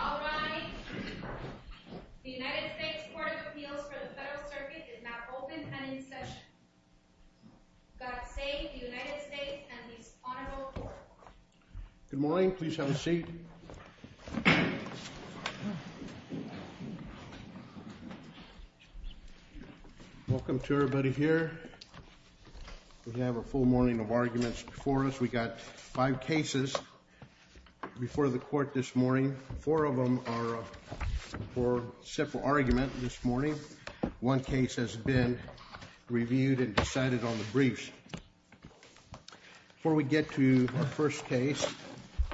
All rise. The United States Court of Appeals for the Federal Circuit is now open and in session. God save the United States and this honorable court. Good morning. Please have a seat. Welcome to everybody here. We have a full morning of arguments before us. We've got five cases before the court this morning. Four of them are for several arguments this morning. One case has been reviewed and decided on the briefs. Before we get to our first case,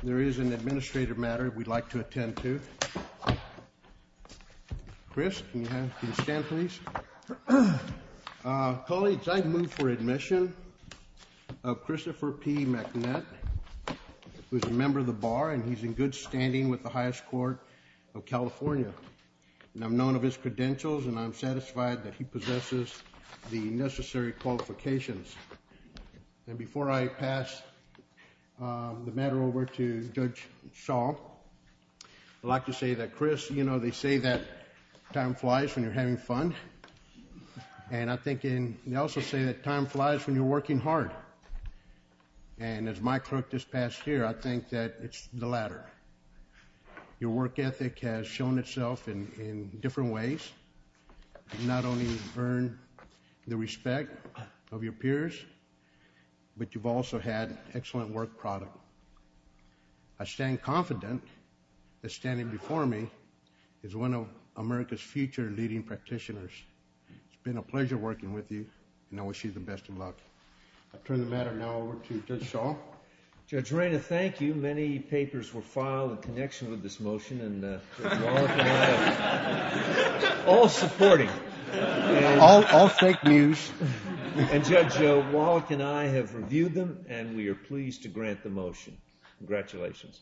there is an administrative matter we'd like to attend to. Chris, can you stand, please? Colleagues, I move for admission of Christopher P. McNutt, who is a member of the bar and he's in good standing with the highest court of California. I'm known of his credentials and I'm satisfied that he possesses the necessary qualifications. And before I pass the matter over to Judge Shaw, I'd like to say that, Chris, you know, they say that time flies when you're having fun. And I think they also say that time flies when you're working hard. And as my clerk just passed here, I think that it's the latter. Your work ethic has shown itself in different ways. You've not only earned the respect of your peers, but you've also had excellent work product. I stand confident that standing before me is one of America's future leading practitioners. It's been a pleasure working with you and I wish you the best of luck. I turn the matter now over to Judge Shaw. Judge Rayna, thank you. Many papers were filed in connection with this motion and Judge Wallach and I are all supporting. All fake news. And Judge Wallach and I have reviewed them and we are pleased to grant the motion. Congratulations.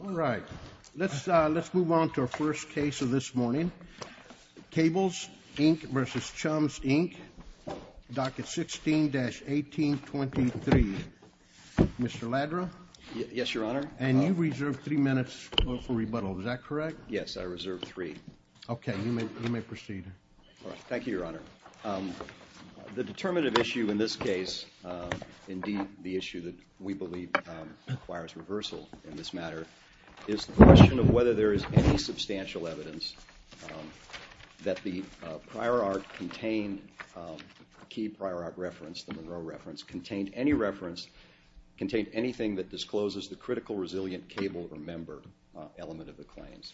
All right. Let's let's move on to our first case of this morning. Cables Inc. versus Chums Inc. Docket 16-1823. Mr. Ladra? Yes, Your Honor. And you reserve three minutes for rebuttal. Is that correct? Yes, I reserve three. Thank you, Your Honor. The determinative issue in this case, indeed the issue that we believe requires reversal in this matter, is the question of whether there is any substantial evidence that the prior art contained, the key prior art reference, the Monroe reference, contained any reference, contained anything that discloses the critical resilient cable or member element of the claims.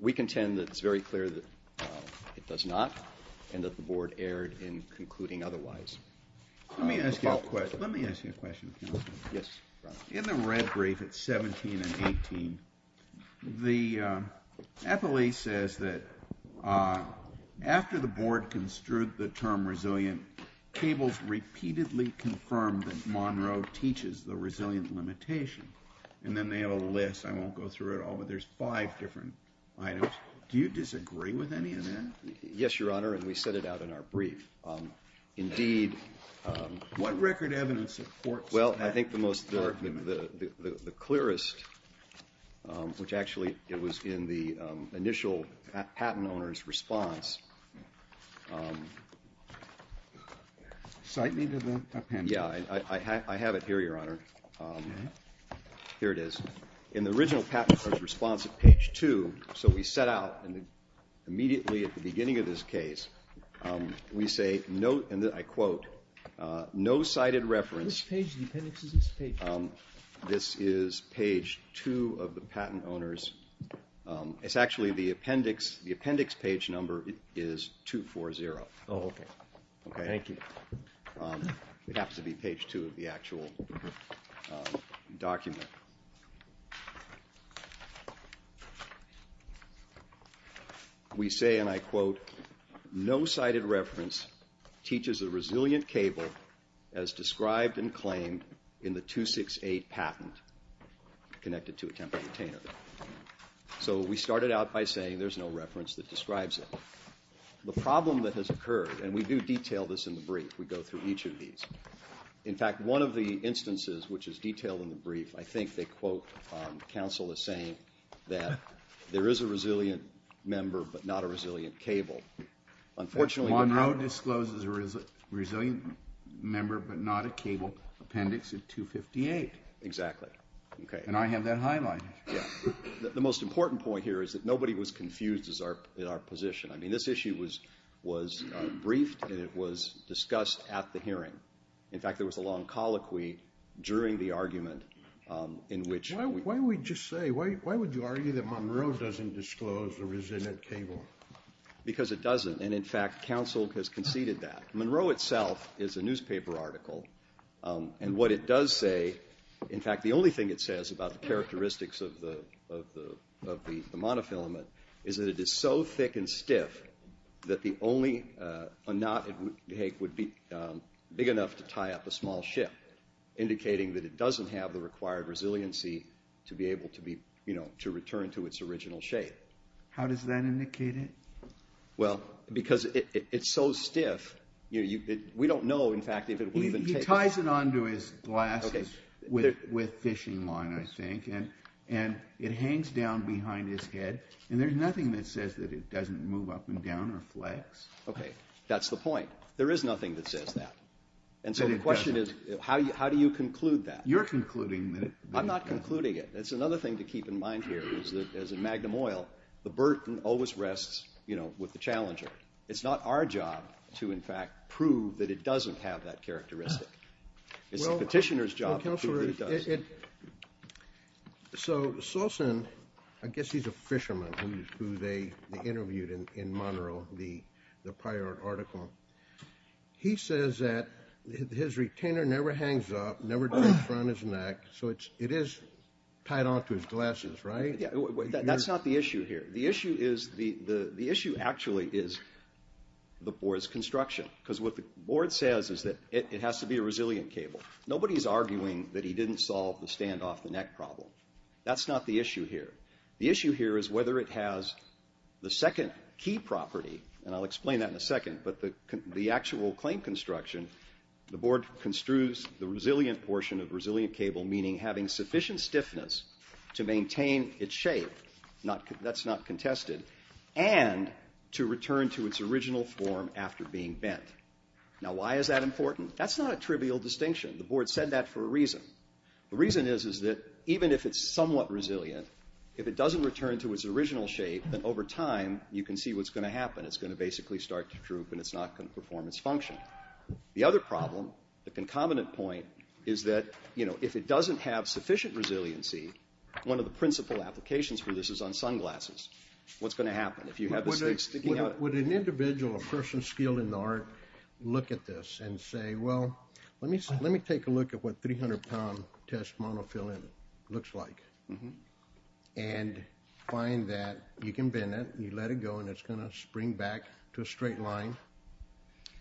We contend that it's very clear that it does not and that the Board erred in concluding otherwise. Let me ask you a question. Yes, Your Honor. In the red brief at 17 and 18, the FLE says that after the Board construed the term resilient, Cables repeatedly confirmed that Monroe teaches the resilient limitation. And then they have a list. I won't go through it all, but there's five different items. Do you disagree with any of that? Yes, Your Honor, and we set it out in our brief. Indeed. What record evidence supports that? Well, I think the most, the clearest, which actually it was in the initial patent owner's response. Cite me to the appendix. Yeah, I have it here, Your Honor. Here it is. In the original patent owner's response at page 2, so we set out immediately at the beginning of this case, we say, I quote, no cited reference. Which page of the appendix is this page? This is page 2 of the patent owner's. It's actually the appendix page number is 240. Oh, okay. Thank you. It happens to be page 2 of the actual document. We say, and I quote, no cited reference teaches a resilient cable as described and claimed in the 268 patent connected to a temporary retainer. So we started out by saying there's no reference that describes it. The problem that has occurred, and we do detail this in the brief. We go through each of these. In fact, one of the instances which is detailed in the brief, I think they quote counsel as saying that there is a resilient member but not a resilient cable. Unfortunately, Monroe discloses a resilient member but not a cable appendix at 258. Exactly. And I have that highlighted. The most important point here is that nobody was confused in our position. I mean, this issue was briefed and it was discussed at the hearing. In fact, there was a long colloquy during the argument in which- Why would you argue that Monroe doesn't disclose a resilient cable? Because it doesn't, and in fact, counsel has conceded that. Monroe itself is a newspaper article, and what it does say, in fact, the only thing it says about the characteristics of the monofilament is that it is so thick and stiff that the only knot it would take would be big enough to tie up a small ship, indicating that it doesn't have the required resiliency to be able to return to its original shape. How does that indicate it? Well, because it's so stiff, we don't know, in fact, if it will even take- It ties it onto his glasses with fishing line, I think, and it hangs down behind his head, and there's nothing that says that it doesn't move up and down or flex. Okay, that's the point. There is nothing that says that. And so the question is, how do you conclude that? You're concluding that- I'm not concluding it. It's another thing to keep in mind here is that as a magnum oil, the burden always rests with the challenger. It's not our job to, in fact, prove that it doesn't have that characteristic. It's the petitioner's job to prove that it does. Well, Counselor, so Solson, I guess he's a fisherman who they interviewed in Monroe, the prior article. He says that his retainer never hangs up, never goes around his neck, so it is tied onto his glasses, right? That's not the issue here. The issue actually is the Board's construction, because what the Board says is that it has to be a resilient cable. Nobody's arguing that he didn't solve the stand-off-the-neck problem. That's not the issue here. The issue here is whether it has the second key property, and I'll explain that in a second, but the actual claim construction, the Board construes the resilient portion of resilient cable, meaning having sufficient stiffness to maintain its shape. That's not contested. And to return to its original form after being bent. Now, why is that important? That's not a trivial distinction. The Board said that for a reason. The reason is that even if it's somewhat resilient, if it doesn't return to its original shape, then over time you can see what's going to happen. It's going to basically start to droop, and it's not going to perform its function. The other problem, the concomitant point, is that, you know, if it doesn't have sufficient resiliency, one of the principal applications for this is on sunglasses. What's going to happen if you have the stick sticking out? Would an individual, a person skilled in the art, look at this and say, well, let me take a look at what 300-pound test monofilament looks like, and find that you can bend it, you let it go, and it's going to spring back to a straight line?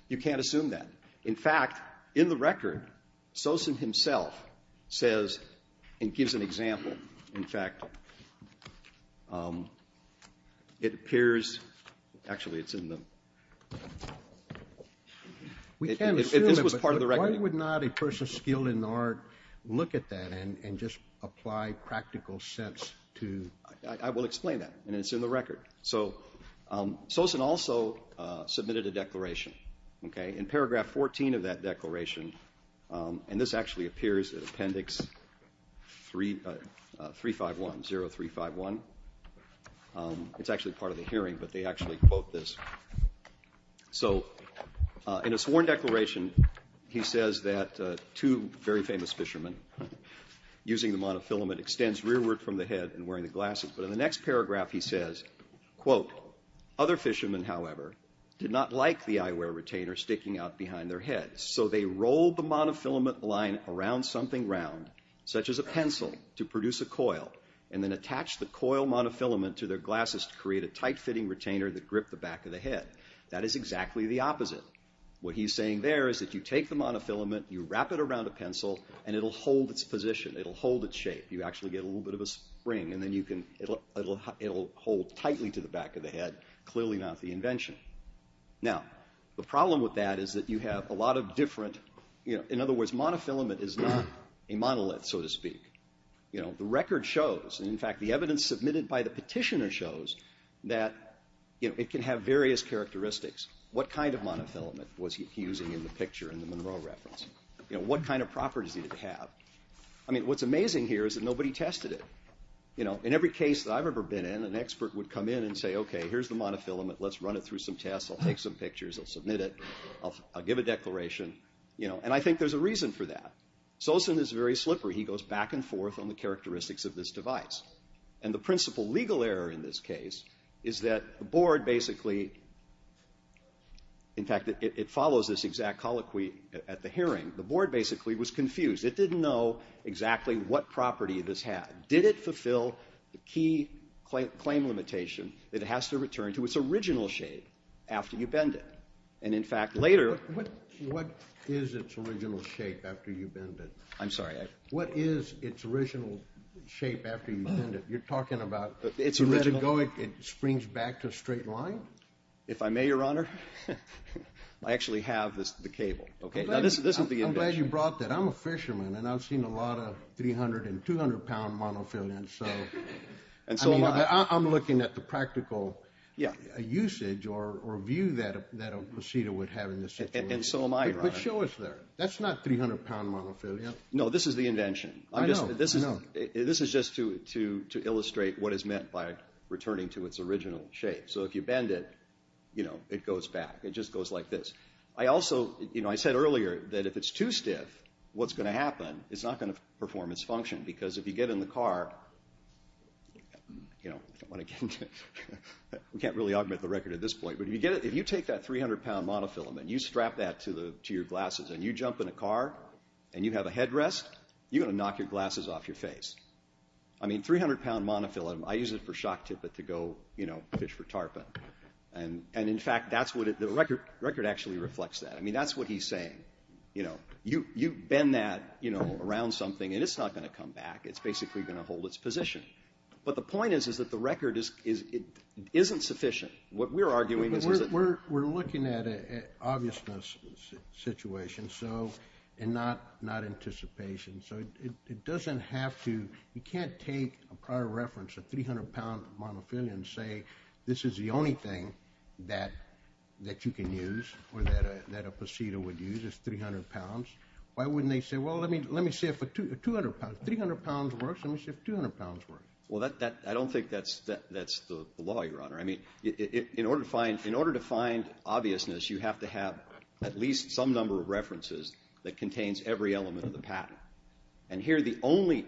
You can't assume that. In fact, in the record, Sosen himself says and gives an example. In fact, it appears, actually it's in the... We can't assume it, but why would not a person skilled in the art look at that and just apply practical sense to... I will explain that, and it's in the record. So, Sosen also submitted a declaration. In paragraph 14 of that declaration, and this actually appears in appendix 0351. It's actually part of the hearing, but they actually quote this. So, in a sworn declaration, he says that two very famous fishermen, using the monofilament, extends rearward from the head and wearing the glasses, but in the next paragraph he says, quote, other fishermen, however, did not like the eyewear retainer sticking out behind their heads, so they rolled the monofilament line around something round, such as a pencil, to produce a coil, and then attached the coil monofilament to their glasses to create a tight-fitting retainer that gripped the back of the head. That is exactly the opposite. What he's saying there is that you take the monofilament, you wrap it around a pencil, and it'll hold its position. It'll hold its shape. You actually get a little bit of a spring, and then it'll hold tightly to the back of the head. Clearly not the invention. Now, the problem with that is that you have a lot of different, in other words, monofilament is not a monolith, so to speak. The record shows, and in fact the evidence submitted by the petitioner shows, that it can have various characteristics. What kind of monofilament was he using in the picture in the Monroe reference? What kind of properties did it have? I mean, what's amazing here is that nobody tested it. In every case that I've ever been in, an expert would come in and say, okay, here's the monofilament. Let's run it through some tests. I'll take some pictures. I'll submit it. I'll give a declaration. And I think there's a reason for that. Solson is very slippery. He goes back and forth on the characteristics of this device. And the principal legal error in this case is that the board basically, in fact, it follows this exact colloquy at the hearing. The board basically was confused. It didn't know exactly what property this had. Did it fulfill the key claim limitation that it has to return to its original shape after you bend it? And, in fact, later ---- What is its original shape after you bend it? I'm sorry. What is its original shape after you bend it? You're talking about it springs back to a straight line? If I may, Your Honor, I actually have the cable. Okay. Now, this is the invention. You brought that. I'm a fisherman, and I've seen a lot of 300- and 200-pound monofilaments. I'm looking at the practical usage or view that a procedure would have in this situation. And so am I, Your Honor. But show us there. That's not 300-pound monofilaments. No, this is the invention. I know. I know. This is just to illustrate what is meant by returning to its original shape. So if you bend it, you know, it goes back. It just goes like this. I also, you know, I said earlier that if it's too stiff, what's going to happen? It's not going to perform its function. Because if you get in the car, you know, I don't want to get into it. We can't really augment the record at this point. But if you take that 300-pound monofilament, you strap that to your glasses, and you jump in a car, and you have a headrest, you're going to knock your glasses off your face. I mean, 300-pound monofilament, I use it for shock tippet to go, you know, fish for tarpon. And, in fact, that's what the record actually reflects that. I mean, that's what he's saying. You know, you bend that, you know, around something, and it's not going to come back. It's basically going to hold its position. But the point is that the record isn't sufficient. What we're arguing is that we're looking at an obviousness situation and not anticipation. So it doesn't have to you can't take a prior reference, a 300-pound monofilament, and say, this is the only thing that you can use or that a procedure would use is 300 pounds. Why wouldn't they say, well, let me see if 200 pounds, 300 pounds works. Let me see if 200 pounds works. Well, I don't think that's the law, Your Honor. I mean, in order to find obviousness, you have to have at least some number of references that contains every element of the pattern. And here the only,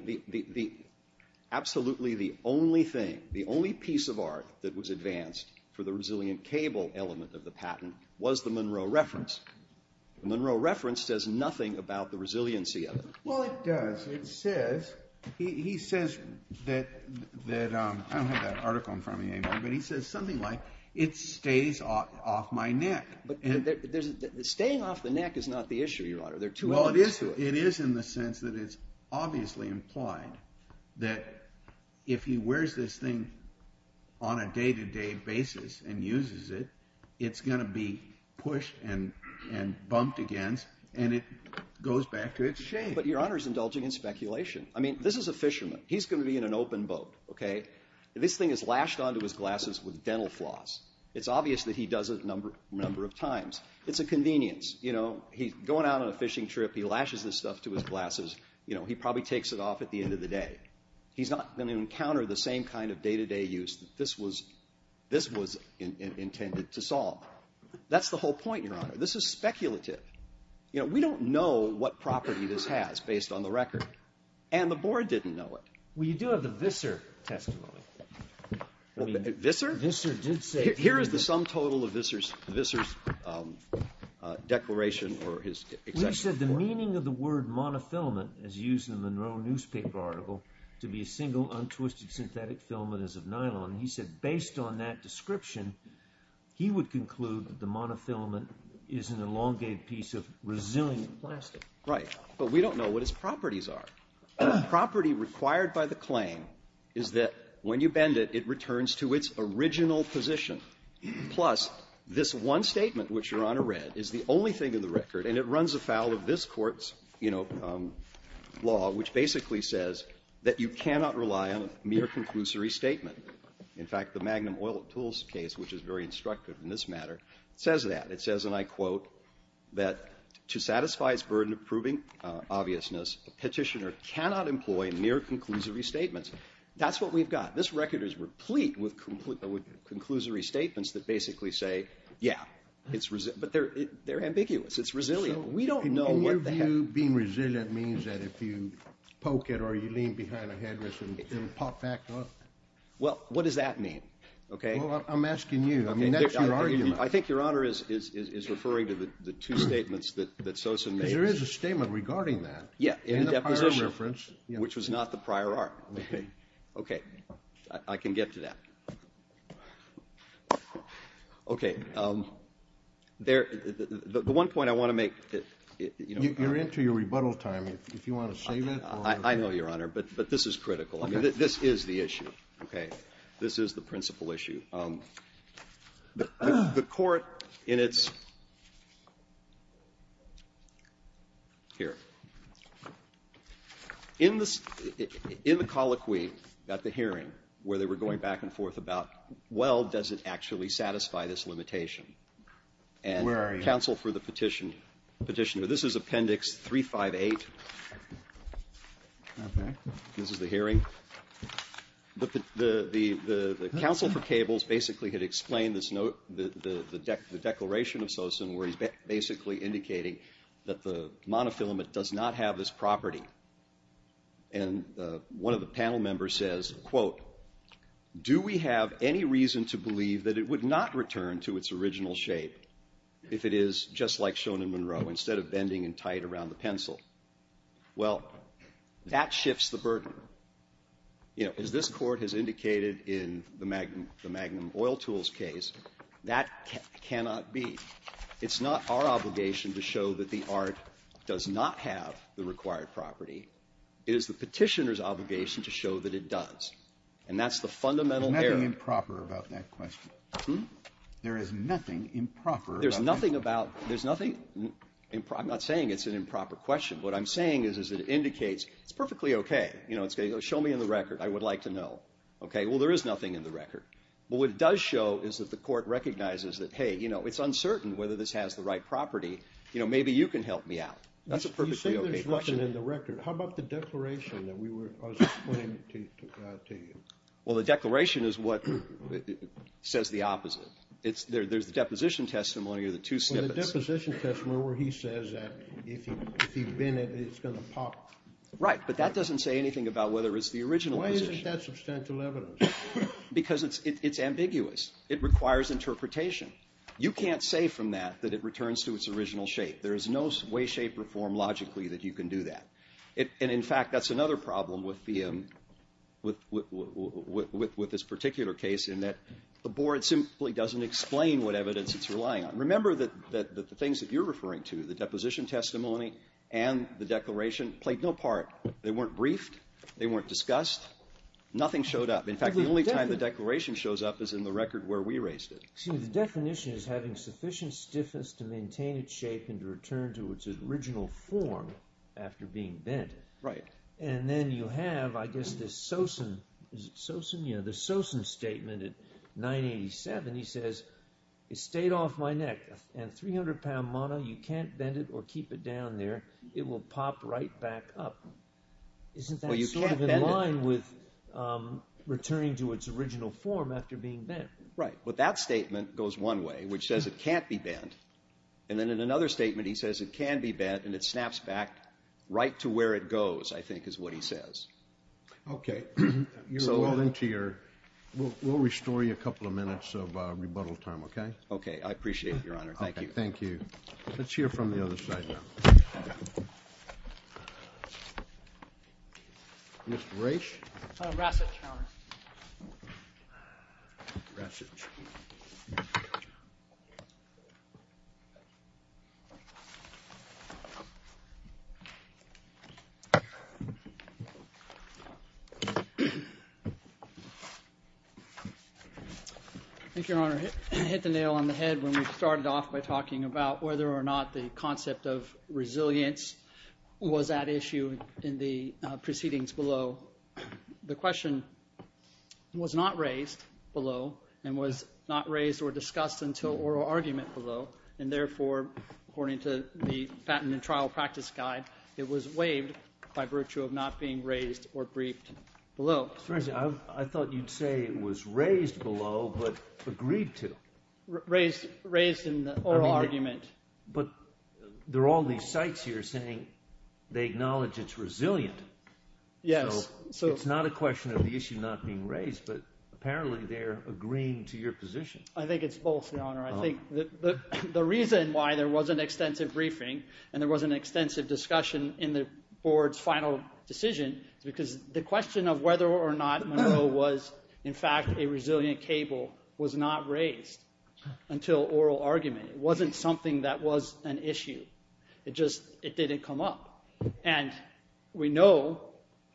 absolutely the only thing, the only piece of art that was advanced for the resilient cable element of the pattern was the Monroe reference. The Monroe reference says nothing about the resiliency of it. Well, it does. It says, he says that, I don't have that article in front of me anymore, but he says something like, it stays off my neck. But staying off the neck is not the issue, Your Honor. Well, it is in the sense that it's obviously implied that if he wears this thing on a day-to-day basis and uses it, it's going to be pushed and bumped against, and it goes back to its shape. But Your Honor is indulging in speculation. I mean, this is a fisherman. He's going to be in an open boat, okay. This thing is lashed onto his glasses with dental floss. It's obvious that he does it a number of times. It's a convenience. He's going out on a fishing trip. He lashes this stuff to his glasses. He probably takes it off at the end of the day. He's not going to encounter the same kind of day-to-day use that this was intended to solve. That's the whole point, Your Honor. This is speculative. We don't know what property this has based on the record, and the board didn't know it. Well, you do have the Visser testimony. Visser? Visser did say it. Here is the sum total of Visser's declaration or his exact report. Well, you said the meaning of the word monofilament is used in the Monroe newspaper article to be a single untwisted synthetic filament as of nylon. He said based on that description, he would conclude that the monofilament is an elongated piece of resilient plastic. Right, but we don't know what its properties are. The property required by the claim is that when you bend it, it returns to its original position, plus this one statement, which, Your Honor, read, is the only thing in the record, and it runs afoul of this Court's, you know, law, which basically says that you cannot rely on a mere conclusory statement. In fact, the Magnum Oil and Tools case, which is very instructive in this matter, says that. It says, and I quote, that to satisfy its burden of proving obviousness, a petitioner cannot employ mere conclusory statements. That's what we've got. This record is replete with conclusory statements that basically say, yeah, it's resilient, but they're ambiguous. It's resilient. So in your view, being resilient means that if you poke it or you lean behind a headrest, it will pop back up? Well, what does that mean, okay? Well, I'm asking you. I mean, that's your argument. I think Your Honor is referring to the two statements that Sosin made. There is a statement regarding that. Yeah, in the deposition. In the prior reference. Which was not the prior art. Okay. Okay. I can get to that. Okay. The one point I want to make, you know, Your Honor. You're into your rebuttal time. If you want to save it. I know, Your Honor, but this is critical. Okay. This is the issue. Okay. This is the principal issue. The Court in its here. In the colloquy at the hearing where they were going back and forth about, well, does it actually satisfy this limitation? And counsel for the Petitioner, this is Appendix 358. Okay. This is the hearing. The counsel for cables basically had explained this note, the declaration of Sosin where he's basically indicating that the monofilament does not have this property. And one of the panel members says, quote, do we have any reason to believe that it would not return to its original shape if it is just like shown in Monroe, instead of bending and tight around the pencil? Well, that shifts the burden. You know, as this Court has indicated in the Magnum Oil Tools case, that cannot be. It's not our obligation to show that the art does not have the required property. It is the Petitioner's obligation to show that it does. And that's the fundamental error. There's nothing improper about that question. Hmm? There is nothing improper about that question. I'm not saying it's an improper question. What I'm saying is it indicates it's perfectly okay. You know, show me in the record. I would like to know. Okay. Well, there is nothing in the record. But what it does show is that the Court recognizes that, hey, you know, it's uncertain whether this has the right property. You know, maybe you can help me out. That's a perfectly okay question. You say there's nothing in the record. How about the declaration that I was explaining to you? Well, the declaration is what says the opposite. There's the deposition testimony or the two snippets. Well, the deposition testimony where he says that if you bend it, it's going to pop. Right. But that doesn't say anything about whether it's the original position. Why isn't that substantial evidence? Because it's ambiguous. It requires interpretation. You can't say from that that it returns to its original shape. There is no way, shape, or form logically that you can do that. And, in fact, that's another problem with this particular case in that the doesn't explain what evidence it's relying on. Remember that the things that you're referring to, the deposition testimony and the declaration, played no part. They weren't briefed. They weren't discussed. Nothing showed up. In fact, the only time the declaration shows up is in the record where we raised it. See, the definition is having sufficient stiffness to maintain its shape and to return to its original form after being bent. Right. And then you have, I guess, this Sosen – is it Sosen? Yeah, the Sosen statement in 987, he says, It stayed off my neck. And 300-pound mono, you can't bend it or keep it down there. It will pop right back up. Isn't that sort of in line with returning to its original form after being bent? Right. But that statement goes one way, which says it can't be bent. And then in another statement, he says it can be bent, and it snaps back right to where it goes, I think, is what he says. Okay. So we'll restore you a couple of minutes of rebuttal time, okay? Okay. I appreciate it, Your Honor. Thank you. Thank you. Let's hear from the other side now. Mr. Raich? Rasech, Your Honor. Rasech. Thank you, Your Honor. It hit the nail on the head when we started off by talking about whether or not the concept of resilience was at issue in the proceedings below. The question was not raised below and was not raised or discussed until oral argument below, and therefore, according to the Fattenman Trial Practice Guide, it was waived by virtue of not being raised or briefed below. Mr. Rasech, I thought you'd say it was raised below but agreed to. Raised in the oral argument. But there are all these sites here saying they acknowledge it's resilient. Yes. So it's not a question of the issue not being raised, but apparently they're agreeing to your position. I think it's both, Your Honor. I think the reason why there wasn't extensive briefing and there wasn't extensive discussion in the board's final decision is because the question of whether or not Monroe was, in fact, a resilient cable was not raised until oral argument. It wasn't something that was an issue. It just didn't come up. And we know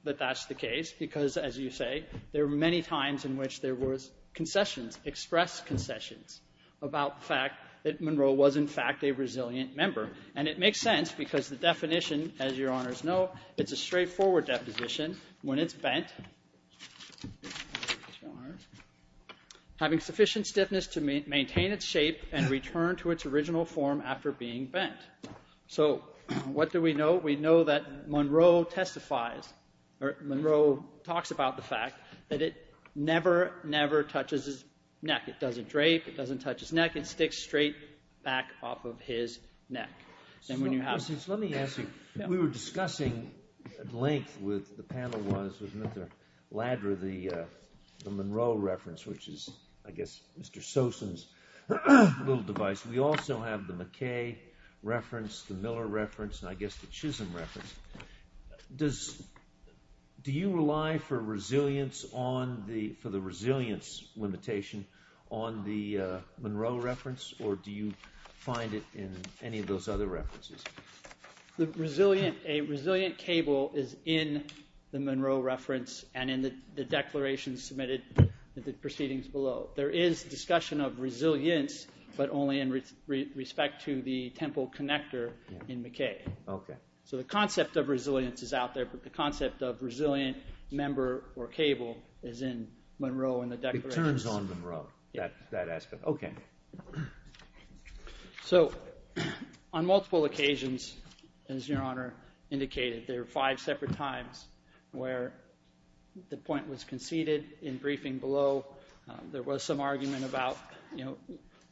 that that's the case because, as you say, there were many times in which there were concessions, expressed concessions about the fact that Monroe was, in fact, a resilient member. And it makes sense because the definition, as Your Honors know, it's a straightforward deposition. When it's bent, having sufficient stiffness to maintain its shape and return to its original form after being bent. So what do we know? We know that Monroe testifies or Monroe talks about the fact that it never, never touches his neck. It doesn't drape. It doesn't touch his neck. It sticks straight back off of his neck. Let me ask you. We were discussing at length with the panel was with Mr. Ladra the Monroe reference, which is, I guess, Mr. Sosin's little device. We also have the McKay reference, the Miller reference, and I guess the Chisholm reference. Do you rely for the resilience limitation on the Monroe reference or do you find it in any of those other references? A resilient cable is in the Monroe reference and in the declaration submitted in the proceedings below. There is discussion of resilience, but only in respect to the temple connector in McKay. Okay. So the concept of resilience is out there, but the concept of resilient member or cable is in Monroe and the declaration. It turns on Monroe, that aspect. Okay. So on multiple occasions, as Your Honor indicated, there are five separate times where the point was conceded in briefing below. There was some argument about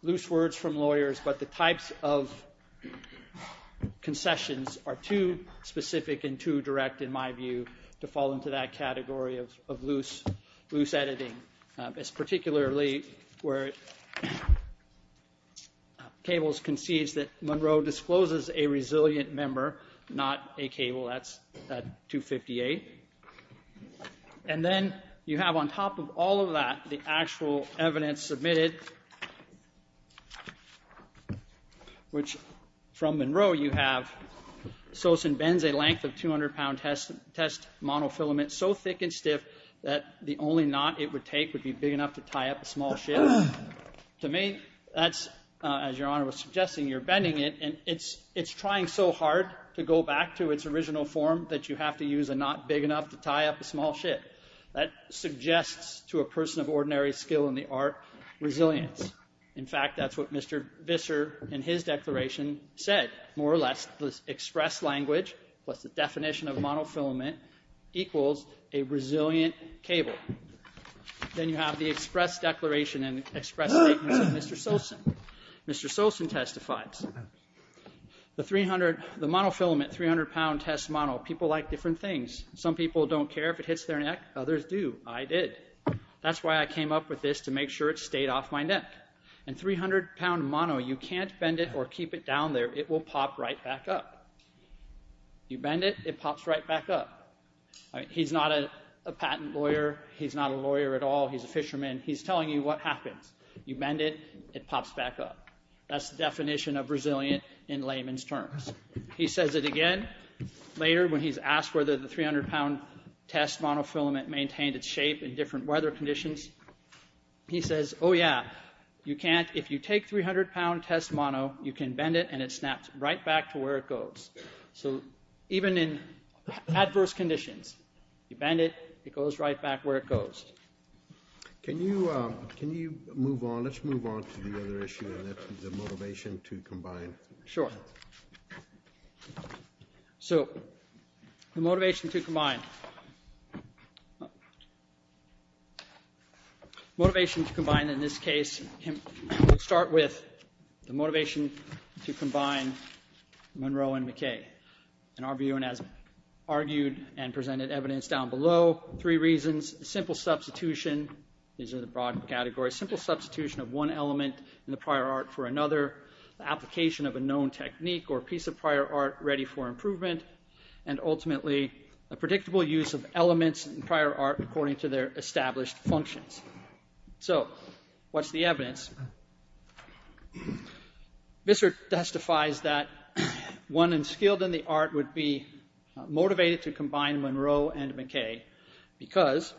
loose words from lawyers, but the types of concessions are too specific and too direct, in my view, to fall into that category of loose editing. It's particularly where cables concedes that Monroe discloses a resilient member, not a cable. That's 258. And then you have on top of all of that the actual evidence submitted, which from Monroe you have Sosen bends a length of 200-pound test monofilament so thick and stiff that the only knot it would take would be big enough to tie up a small ship. To me, that's, as Your Honor was suggesting, you're bending it, and it's trying so hard to go back to its original form that you have to use a knot big enough to tie up a small ship. That suggests to a person of ordinary skill in the art resilience. In fact, that's what Mr. Visser, in his declaration, said. More or less, the express language was the definition of monofilament equals a resilient cable. Then you have the express declaration and express statements of Mr. Sosen. Mr. Sosen testifies, The monofilament 300-pound test mono, people like different things. Some people don't care if it hits their neck. Others do. I did. That's why I came up with this, to make sure it stayed off my neck. And 300-pound mono, you can't bend it or keep it down there. It will pop right back up. You bend it, it pops right back up. He's not a patent lawyer. He's not a lawyer at all. He's a fisherman. He's telling you what happens. You bend it, it pops back up. That's the definition of resilient in layman's terms. He says it again later when he's asked whether the 300-pound test monofilament maintained its shape in different weather conditions. He says, oh yeah, you can't. If you take 300-pound test mono, you can bend it and it snaps right back to where it goes. So even in adverse conditions, you bend it, it goes right back where it goes. Can you move on? Let's move on to the other issue, and that's the motivation to combine. Sure. So the motivation to combine. Motivation to combine in this case, we'll start with the motivation to combine Monroe and McKay. And our view, and as argued and presented evidence down below, three reasons. Simple substitution. These are the broad categories. Simple substitution of one element in the prior art for another. Application of a known technique or piece of prior art ready for improvement. And ultimately, a predictable use of elements in prior art according to their established functions. So what's the evidence? Visser testifies that one unskilled in the art would be motivated to combine Monroe and McKay because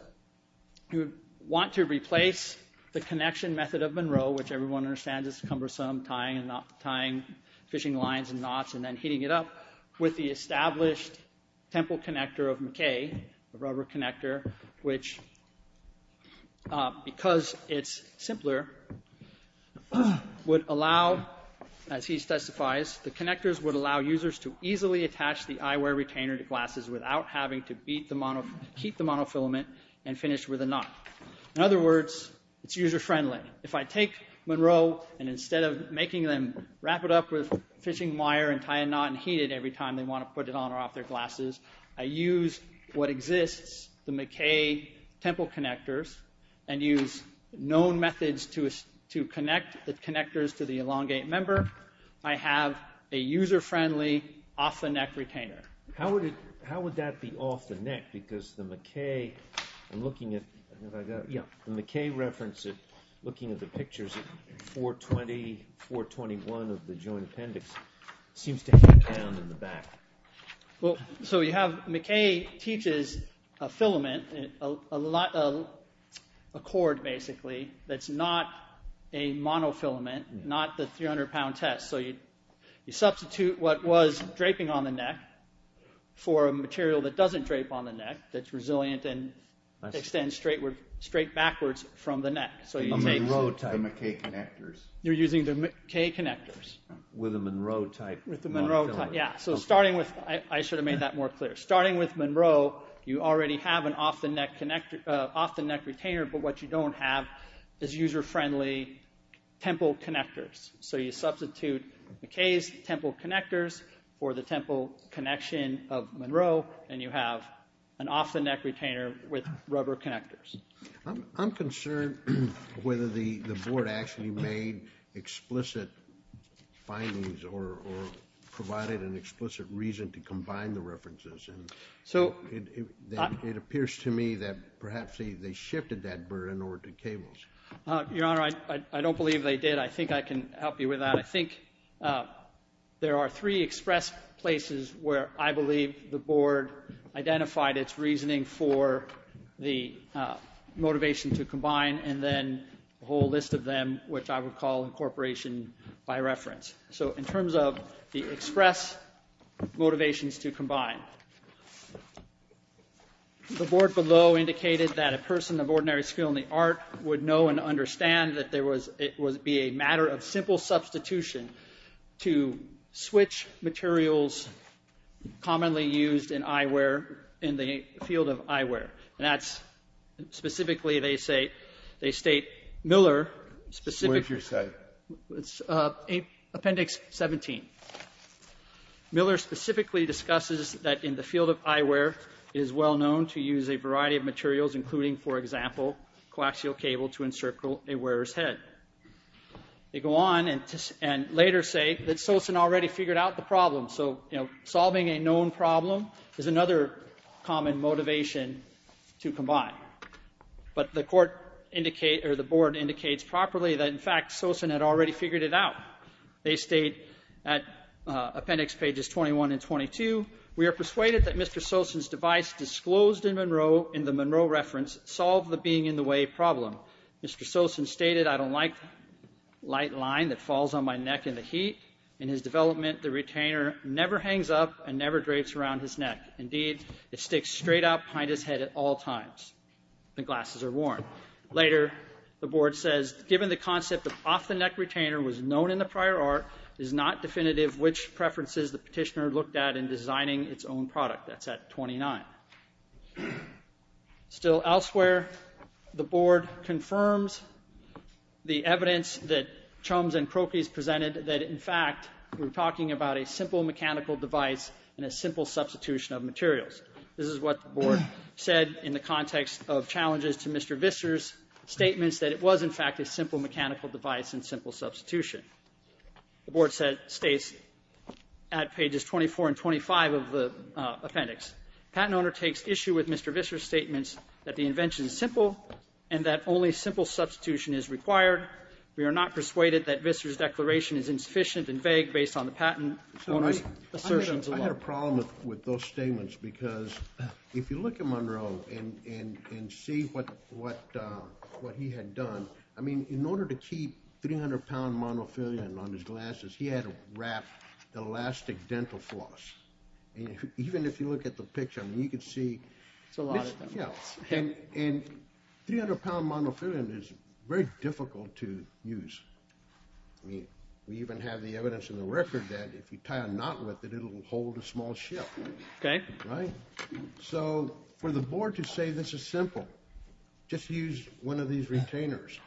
you want to replace the connection method of Monroe, which everyone understands is cumbersome, tying fishing lines and knots and then heating it up, with the established temple connector of McKay, the rubber connector, which because it's simpler, would allow, as he testifies, the connectors would allow users to easily attach the eyewear retainer to glasses without having to heat the monofilament and finish with a knot. In other words, it's user-friendly. If I take Monroe and instead of making them wrap it up with fishing wire and tie a knot and heat it every time they want to put it on or off their glasses, I use what exists, the McKay temple connectors, and use known methods to connect the connectors to the elongate member, I have a user-friendly off-the-neck retainer. How would that be off-the-neck? Because the McKay reference, looking at the pictures, 420, 421 of the joint appendix seems to hang down in the back. McKay teaches a filament, a cord basically, that's not a monofilament, not the 300-pound test. You substitute what was draping on the neck for a material that doesn't drape on the neck, that's resilient and extends straight backwards from the neck. A Monroe type. The McKay connectors. You're using the McKay connectors. With a Monroe type monofilament. Yeah. I should have made that more clear. Starting with Monroe, you already have an off-the-neck retainer, but what you don't have is user-friendly temple connectors. So you substitute McKay's temple connectors for the temple connection of Monroe, and you have an off-the-neck retainer with rubber connectors. I'm concerned whether the Board actually made explicit findings or provided an explicit reason to combine the references. It appears to me that perhaps they shifted that burden over to cables. Your Honor, I don't believe they did. I think I can help you with that. I think there are three express places where I believe the Board identified its reasoning for the motivation to combine and then a whole list of them, which I would call incorporation by reference. So in terms of the express motivations to combine, the Board below indicated that a person of ordinary skill in the art would know and understand that it would be a matter of simple substitution to switch materials commonly used in eyewear, in the field of eyewear, and that's specifically, they state, Miller specifically. Where's your site? It's Appendix 17. Miller specifically discusses that in the field of eyewear, it is well known to use a variety of materials including, for example, coaxial cable to encircle a wearer's head. They go on and later say that Sosin already figured out the problem. So solving a known problem is another common motivation to combine. But the Board indicates properly that, in fact, Sosin had already figured it out. They state at Appendix pages 21 and 22, we are persuaded that Mr. Sosin's device disclosed in the Monroe reference solved the being-in-the-way problem. Mr. Sosin stated, I don't like light line that falls on my neck in the heat. In his development, the retainer never hangs up and never drapes around his neck. Indeed, it sticks straight up behind his head at all times. The glasses are worn. Later, the Board says, given the concept of off-the-neck retainer was known in the prior art, it is not definitive which preferences the petitioner looked at in designing its own product. That's at 29. Still elsewhere, the Board confirms the evidence that Chums and Crokeys presented that, in fact, we're talking about a simple mechanical device and a simple substitution of materials. This is what the Board said in the context of challenges to Mr. Visser's statements that it was, in fact, a simple mechanical device and simple substitution. The Board states at pages 24 and 25 of the appendix, patent owner takes issue with Mr. Visser's statements that the invention is simple and that only simple substitution is required. We are not persuaded that Visser's declaration is insufficient and vague based on the patent owner's assertions alone. I had a problem with those statements because if you look at Monroe and see what he had done, I mean, in order to keep 300-pound monofilament on his glasses, he had to wrap elastic dental floss. Even if you look at the picture, you can see. It's a lot of stuff. And 300-pound monofilament is very difficult to use. I mean, we even have the evidence in the record that if you tie a knot with it, it'll hold a small ship. Okay. Right? So for the Board to say this is simple, just use one of these retainers.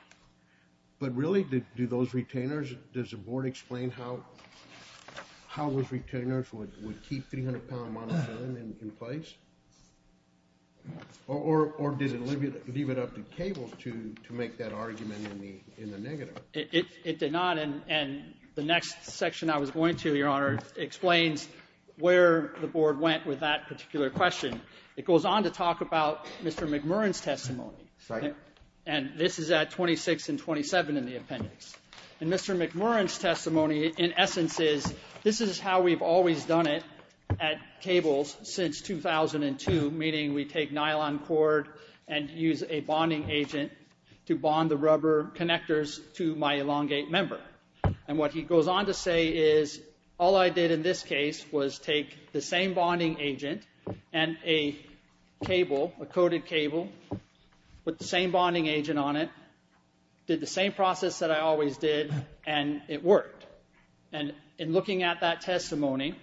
But really, do those retainers, does the Board explain how those retainers would keep 300-pound monofilament in place? Or did it leave it up to Cable to make that argument in the negative? It did not. And the next section I was going to, Your Honor, explains where the Board went with that particular question. It goes on to talk about Mr. McMurrin's testimony. Second. And this is at 26 and 27 in the appendix. And Mr. McMurrin's testimony, in essence, is this is how we've always done it at Cables since 2002, meaning we take nylon cord and use a bonding agent to bond the rubber connectors to my elongate member. And what he goes on to say is all I did in this case was take the same bonding agent and a cable, a coded cable, put the same bonding agent on it, did the same process that I always did, and it worked. And in looking at that testimony,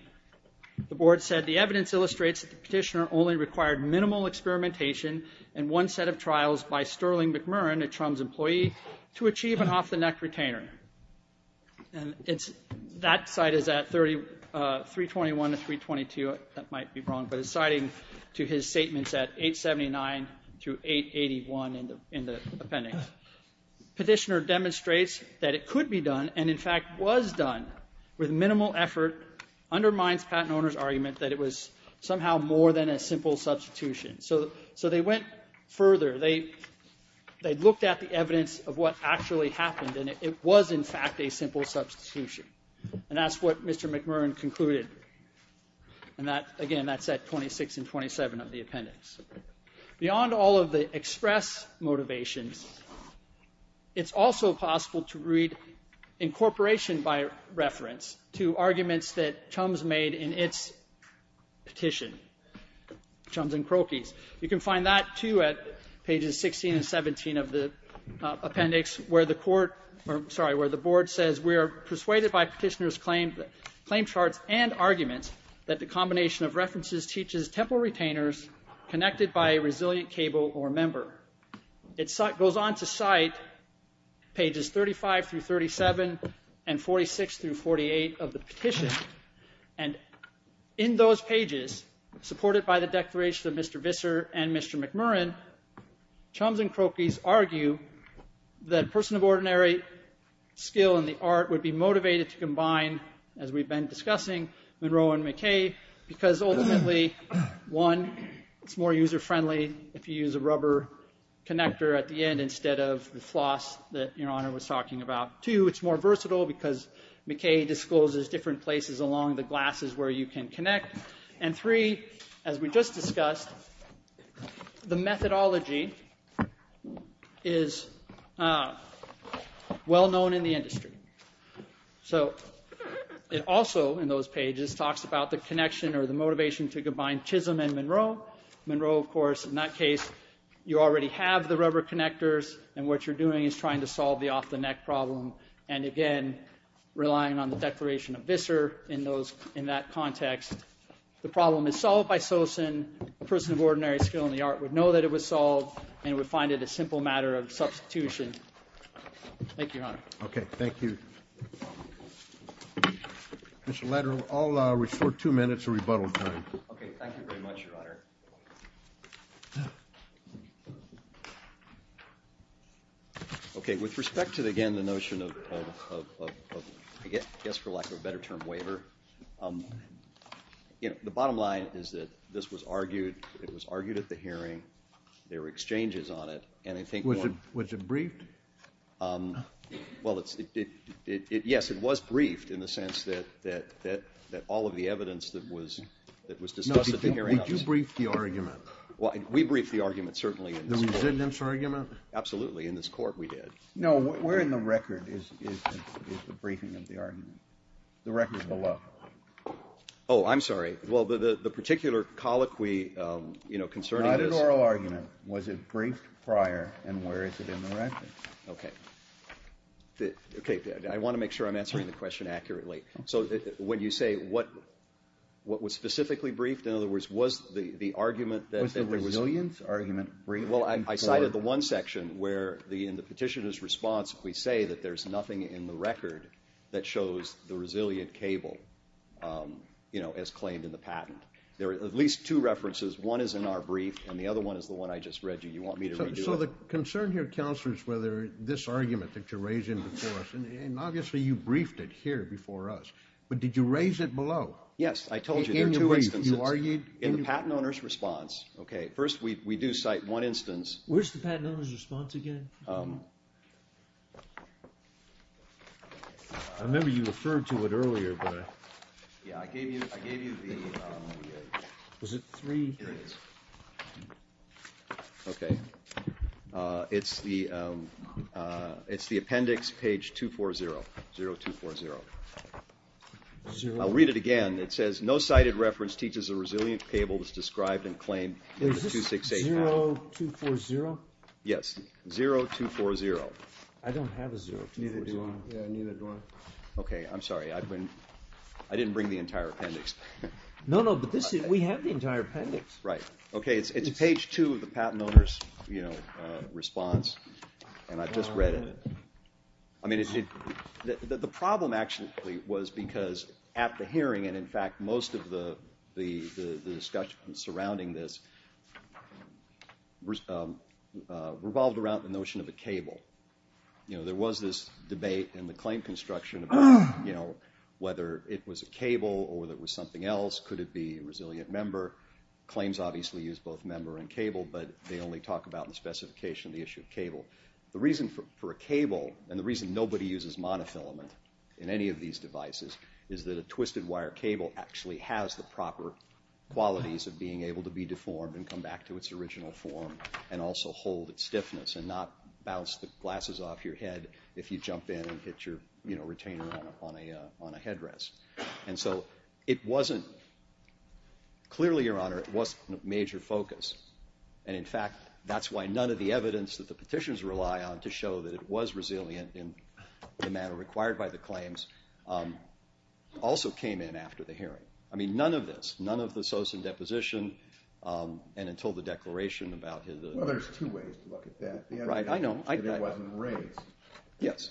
the Board said, the evidence illustrates that the petitioner only required minimal experimentation and one set of trials by Sterling McMurrin, a TRUMS employee, to achieve an off-the-neck retainer. And that side is at 321 to 322. That might be wrong, but it's citing to his statements at 879 to 881 in the appendix. Petitioner demonstrates that it could be done and, in fact, was done with minimal effort, undermines patent owner's argument that it was somehow more than a simple substitution. So they went further. They looked at the evidence of what actually happened. And it was, in fact, a simple substitution. And that's what Mr. McMurrin concluded. And, again, that's at 26 and 27 of the appendix. Beyond all of the express motivations, it's also possible to read incorporation by reference to arguments that TRUMS made in its petition, TRUMS and Croakeys. You can find that, too, at pages 16 and 17 of the appendix, where the board says, we are persuaded by petitioner's claim charts and arguments that the combination of references teaches temporal retainers connected by a resilient cable or member. It goes on to cite pages 35 through 37 and 46 through 48 of the petition. And in those pages, supported by the declaration of Mr. Visser and Mr. McMurrin, TRUMS and Croakeys argue that a person of ordinary skill in the art would be motivated to combine, as we've been discussing, Monroe and McKay, because, ultimately, one, it's more user-friendly if you use a rubber connector at the end instead of the floss that Your Honor was talking about. Two, it's more versatile because McKay discloses different places along the glasses where you can connect. And three, as we just discussed, the methodology is well-known in the industry. It also, in those pages, talks about the connection or the motivation to combine Chisholm and Monroe. Monroe, of course, in that case, you already have the rubber connectors, and what you're doing is trying to solve the off-the-neck problem, and, again, relying on the declaration of Visser in that context. The problem is solved by Sosen. A person of ordinary skill in the art would know that it was solved and would find it a simple matter of substitution. Thank you, Your Honor. Okay, thank you. Mr. Lederer, I'll restore two minutes of rebuttal time. Okay, thank you very much, Your Honor. Okay, with respect to, again, the notion of, I guess for lack of a better term, waiver, the bottom line is that this was argued at the hearing, there were exchanges on it. Was it briefed? Well, yes, it was briefed in the sense that all of the evidence that was discussed at the hearing was. No, did you brief the argument? We briefed the argument, certainly. The resident's argument? Absolutely. In this court, we did. No, where in the record is the briefing of the argument? The record is below. Oh, I'm sorry. Well, the particular colloquy concerning this. Not an oral argument. Was it briefed prior, and where is it in the record? Okay, I want to make sure I'm answering the question accurately. So when you say what was specifically briefed, in other words, was the argument that the Was the resilient's argument briefed in court? Well, I cited the one section where in the petitioner's response, we say that there's nothing in the record that shows the resilient cable, you know, as claimed in the patent. There are at least two references. One is in our brief, and the other one is the one I just read you. You want me to redo it? So the concern here, Counselor, is whether this argument that you're raising before us, and obviously you briefed it here before us, but did you raise it below? Yes, I told you there are two instances. In the patent owner's response. Okay, first we do cite one instance. Where's the patent owner's response again? I remember you referred to it earlier, but I... Was it three? Okay. It's the appendix, page 240. 0240. I'll read it again. It says, no cited reference teaches the resilient cable was described and claimed in the 268 patent. Is this 0240? Yes, 0240. I don't have a 0240. Neither do I. Okay, I'm sorry. I didn't bring the entire appendix. No, no, but we have the entire appendix. Right. Okay, it's page 2 of the patent owner's response, and I just read it. I mean, the problem actually was because at the hearing, and in fact most of the discussion surrounding this revolved around the notion of a cable. There was this debate in the claim construction about whether it was a cable or whether it was something else. Could it be a resilient member? Claims obviously use both member and cable, but they only talk about in the specification the issue of cable. The reason for a cable, and the reason nobody uses monofilament in any of these devices, is that a twisted wire cable actually has the proper qualities of being able to be deformed and come back to its original form and also hold its stiffness and not bounce the glasses off your head if you jump in and hit your retainer on a headrest. And so it wasn't, clearly, Your Honor, it wasn't a major focus. And in fact, that's why none of the evidence that the petitions rely on to show that it was resilient in the manner required by the claims also came in after the hearing. I mean, none of this, none of the Soson deposition and until the declaration about it. Well, there's two ways to look at that. Right, I know. It wasn't raised. Yes.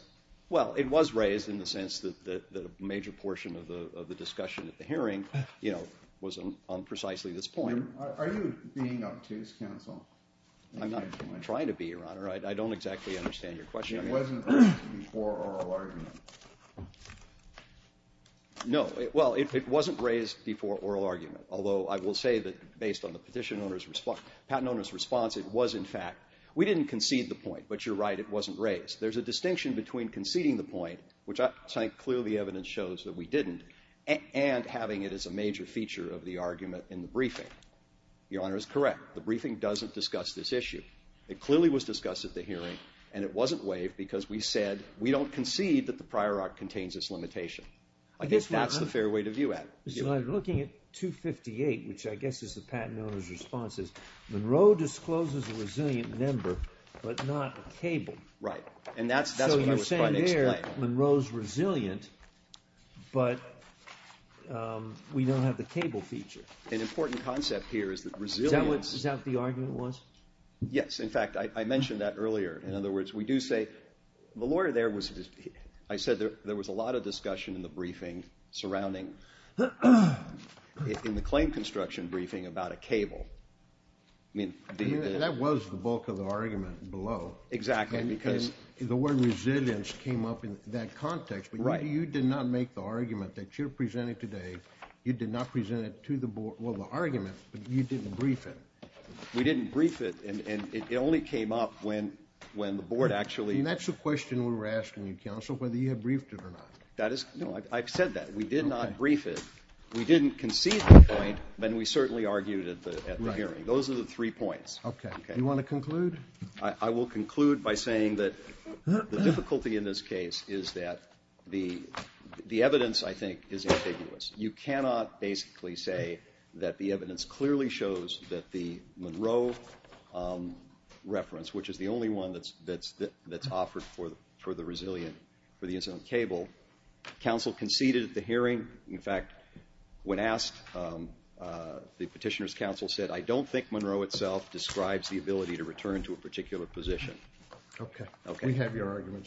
Well, it was raised in the sense that a major portion of the discussion at the hearing, you know, was on precisely this point. Are you being up to this counsel? I'm not trying to be, Your Honor. I don't exactly understand your question. It wasn't raised before oral argument. No. Well, it wasn't raised before oral argument, although I will say that based on the petition owner's response, patent owner's response, it was in fact, we didn't concede the point, but you're right, it wasn't raised. There's a distinction between conceding the point, which I think clearly the evidence shows that we didn't, and having it as a major feature of the argument in the briefing. Your Honor is correct. The briefing doesn't discuss this issue. It clearly was discussed at the hearing, and it wasn't waived because we said we don't concede that the prior art contains this limitation. I guess that's the fair way to view it. I'm looking at 258, which I guess is the patent owner's response. Monroe discloses a resilient member, but not a cable. Right, and that's what I was trying to explain. So you're saying there Monroe's resilient, but we don't have the cable feature. An important concept here is that resilience. Is that what the argument was? Yes. In fact, I mentioned that earlier. In other words, we do say the lawyer there was, I said there was a lot of discussion in the briefing surrounding, in the claim construction briefing about a cable. That was the bulk of the argument below. Exactly, because. The word resilience came up in that context, but you did not make the argument that you're presenting today. You did not present it to the board, well, the argument, but you didn't brief it. We didn't brief it, and it only came up when the board actually. And that's the question we were asking you, counsel, whether you had briefed it or not. No, I've said that. We did not brief it. We didn't concede the point, but we certainly argued it at the hearing. Those are the three points. Okay. Do you want to conclude? I will conclude by saying that the difficulty in this case is that the evidence, I think, is ambiguous. You cannot basically say that the evidence clearly shows that the Monroe reference, which is the only one that's offered for the resilient, for the incidental cable. Counsel conceded at the hearing. In fact, when asked, the petitioner's counsel said, I don't think Monroe itself describes the ability to return to a particular position. Okay. Okay. We have your argument. Thank you.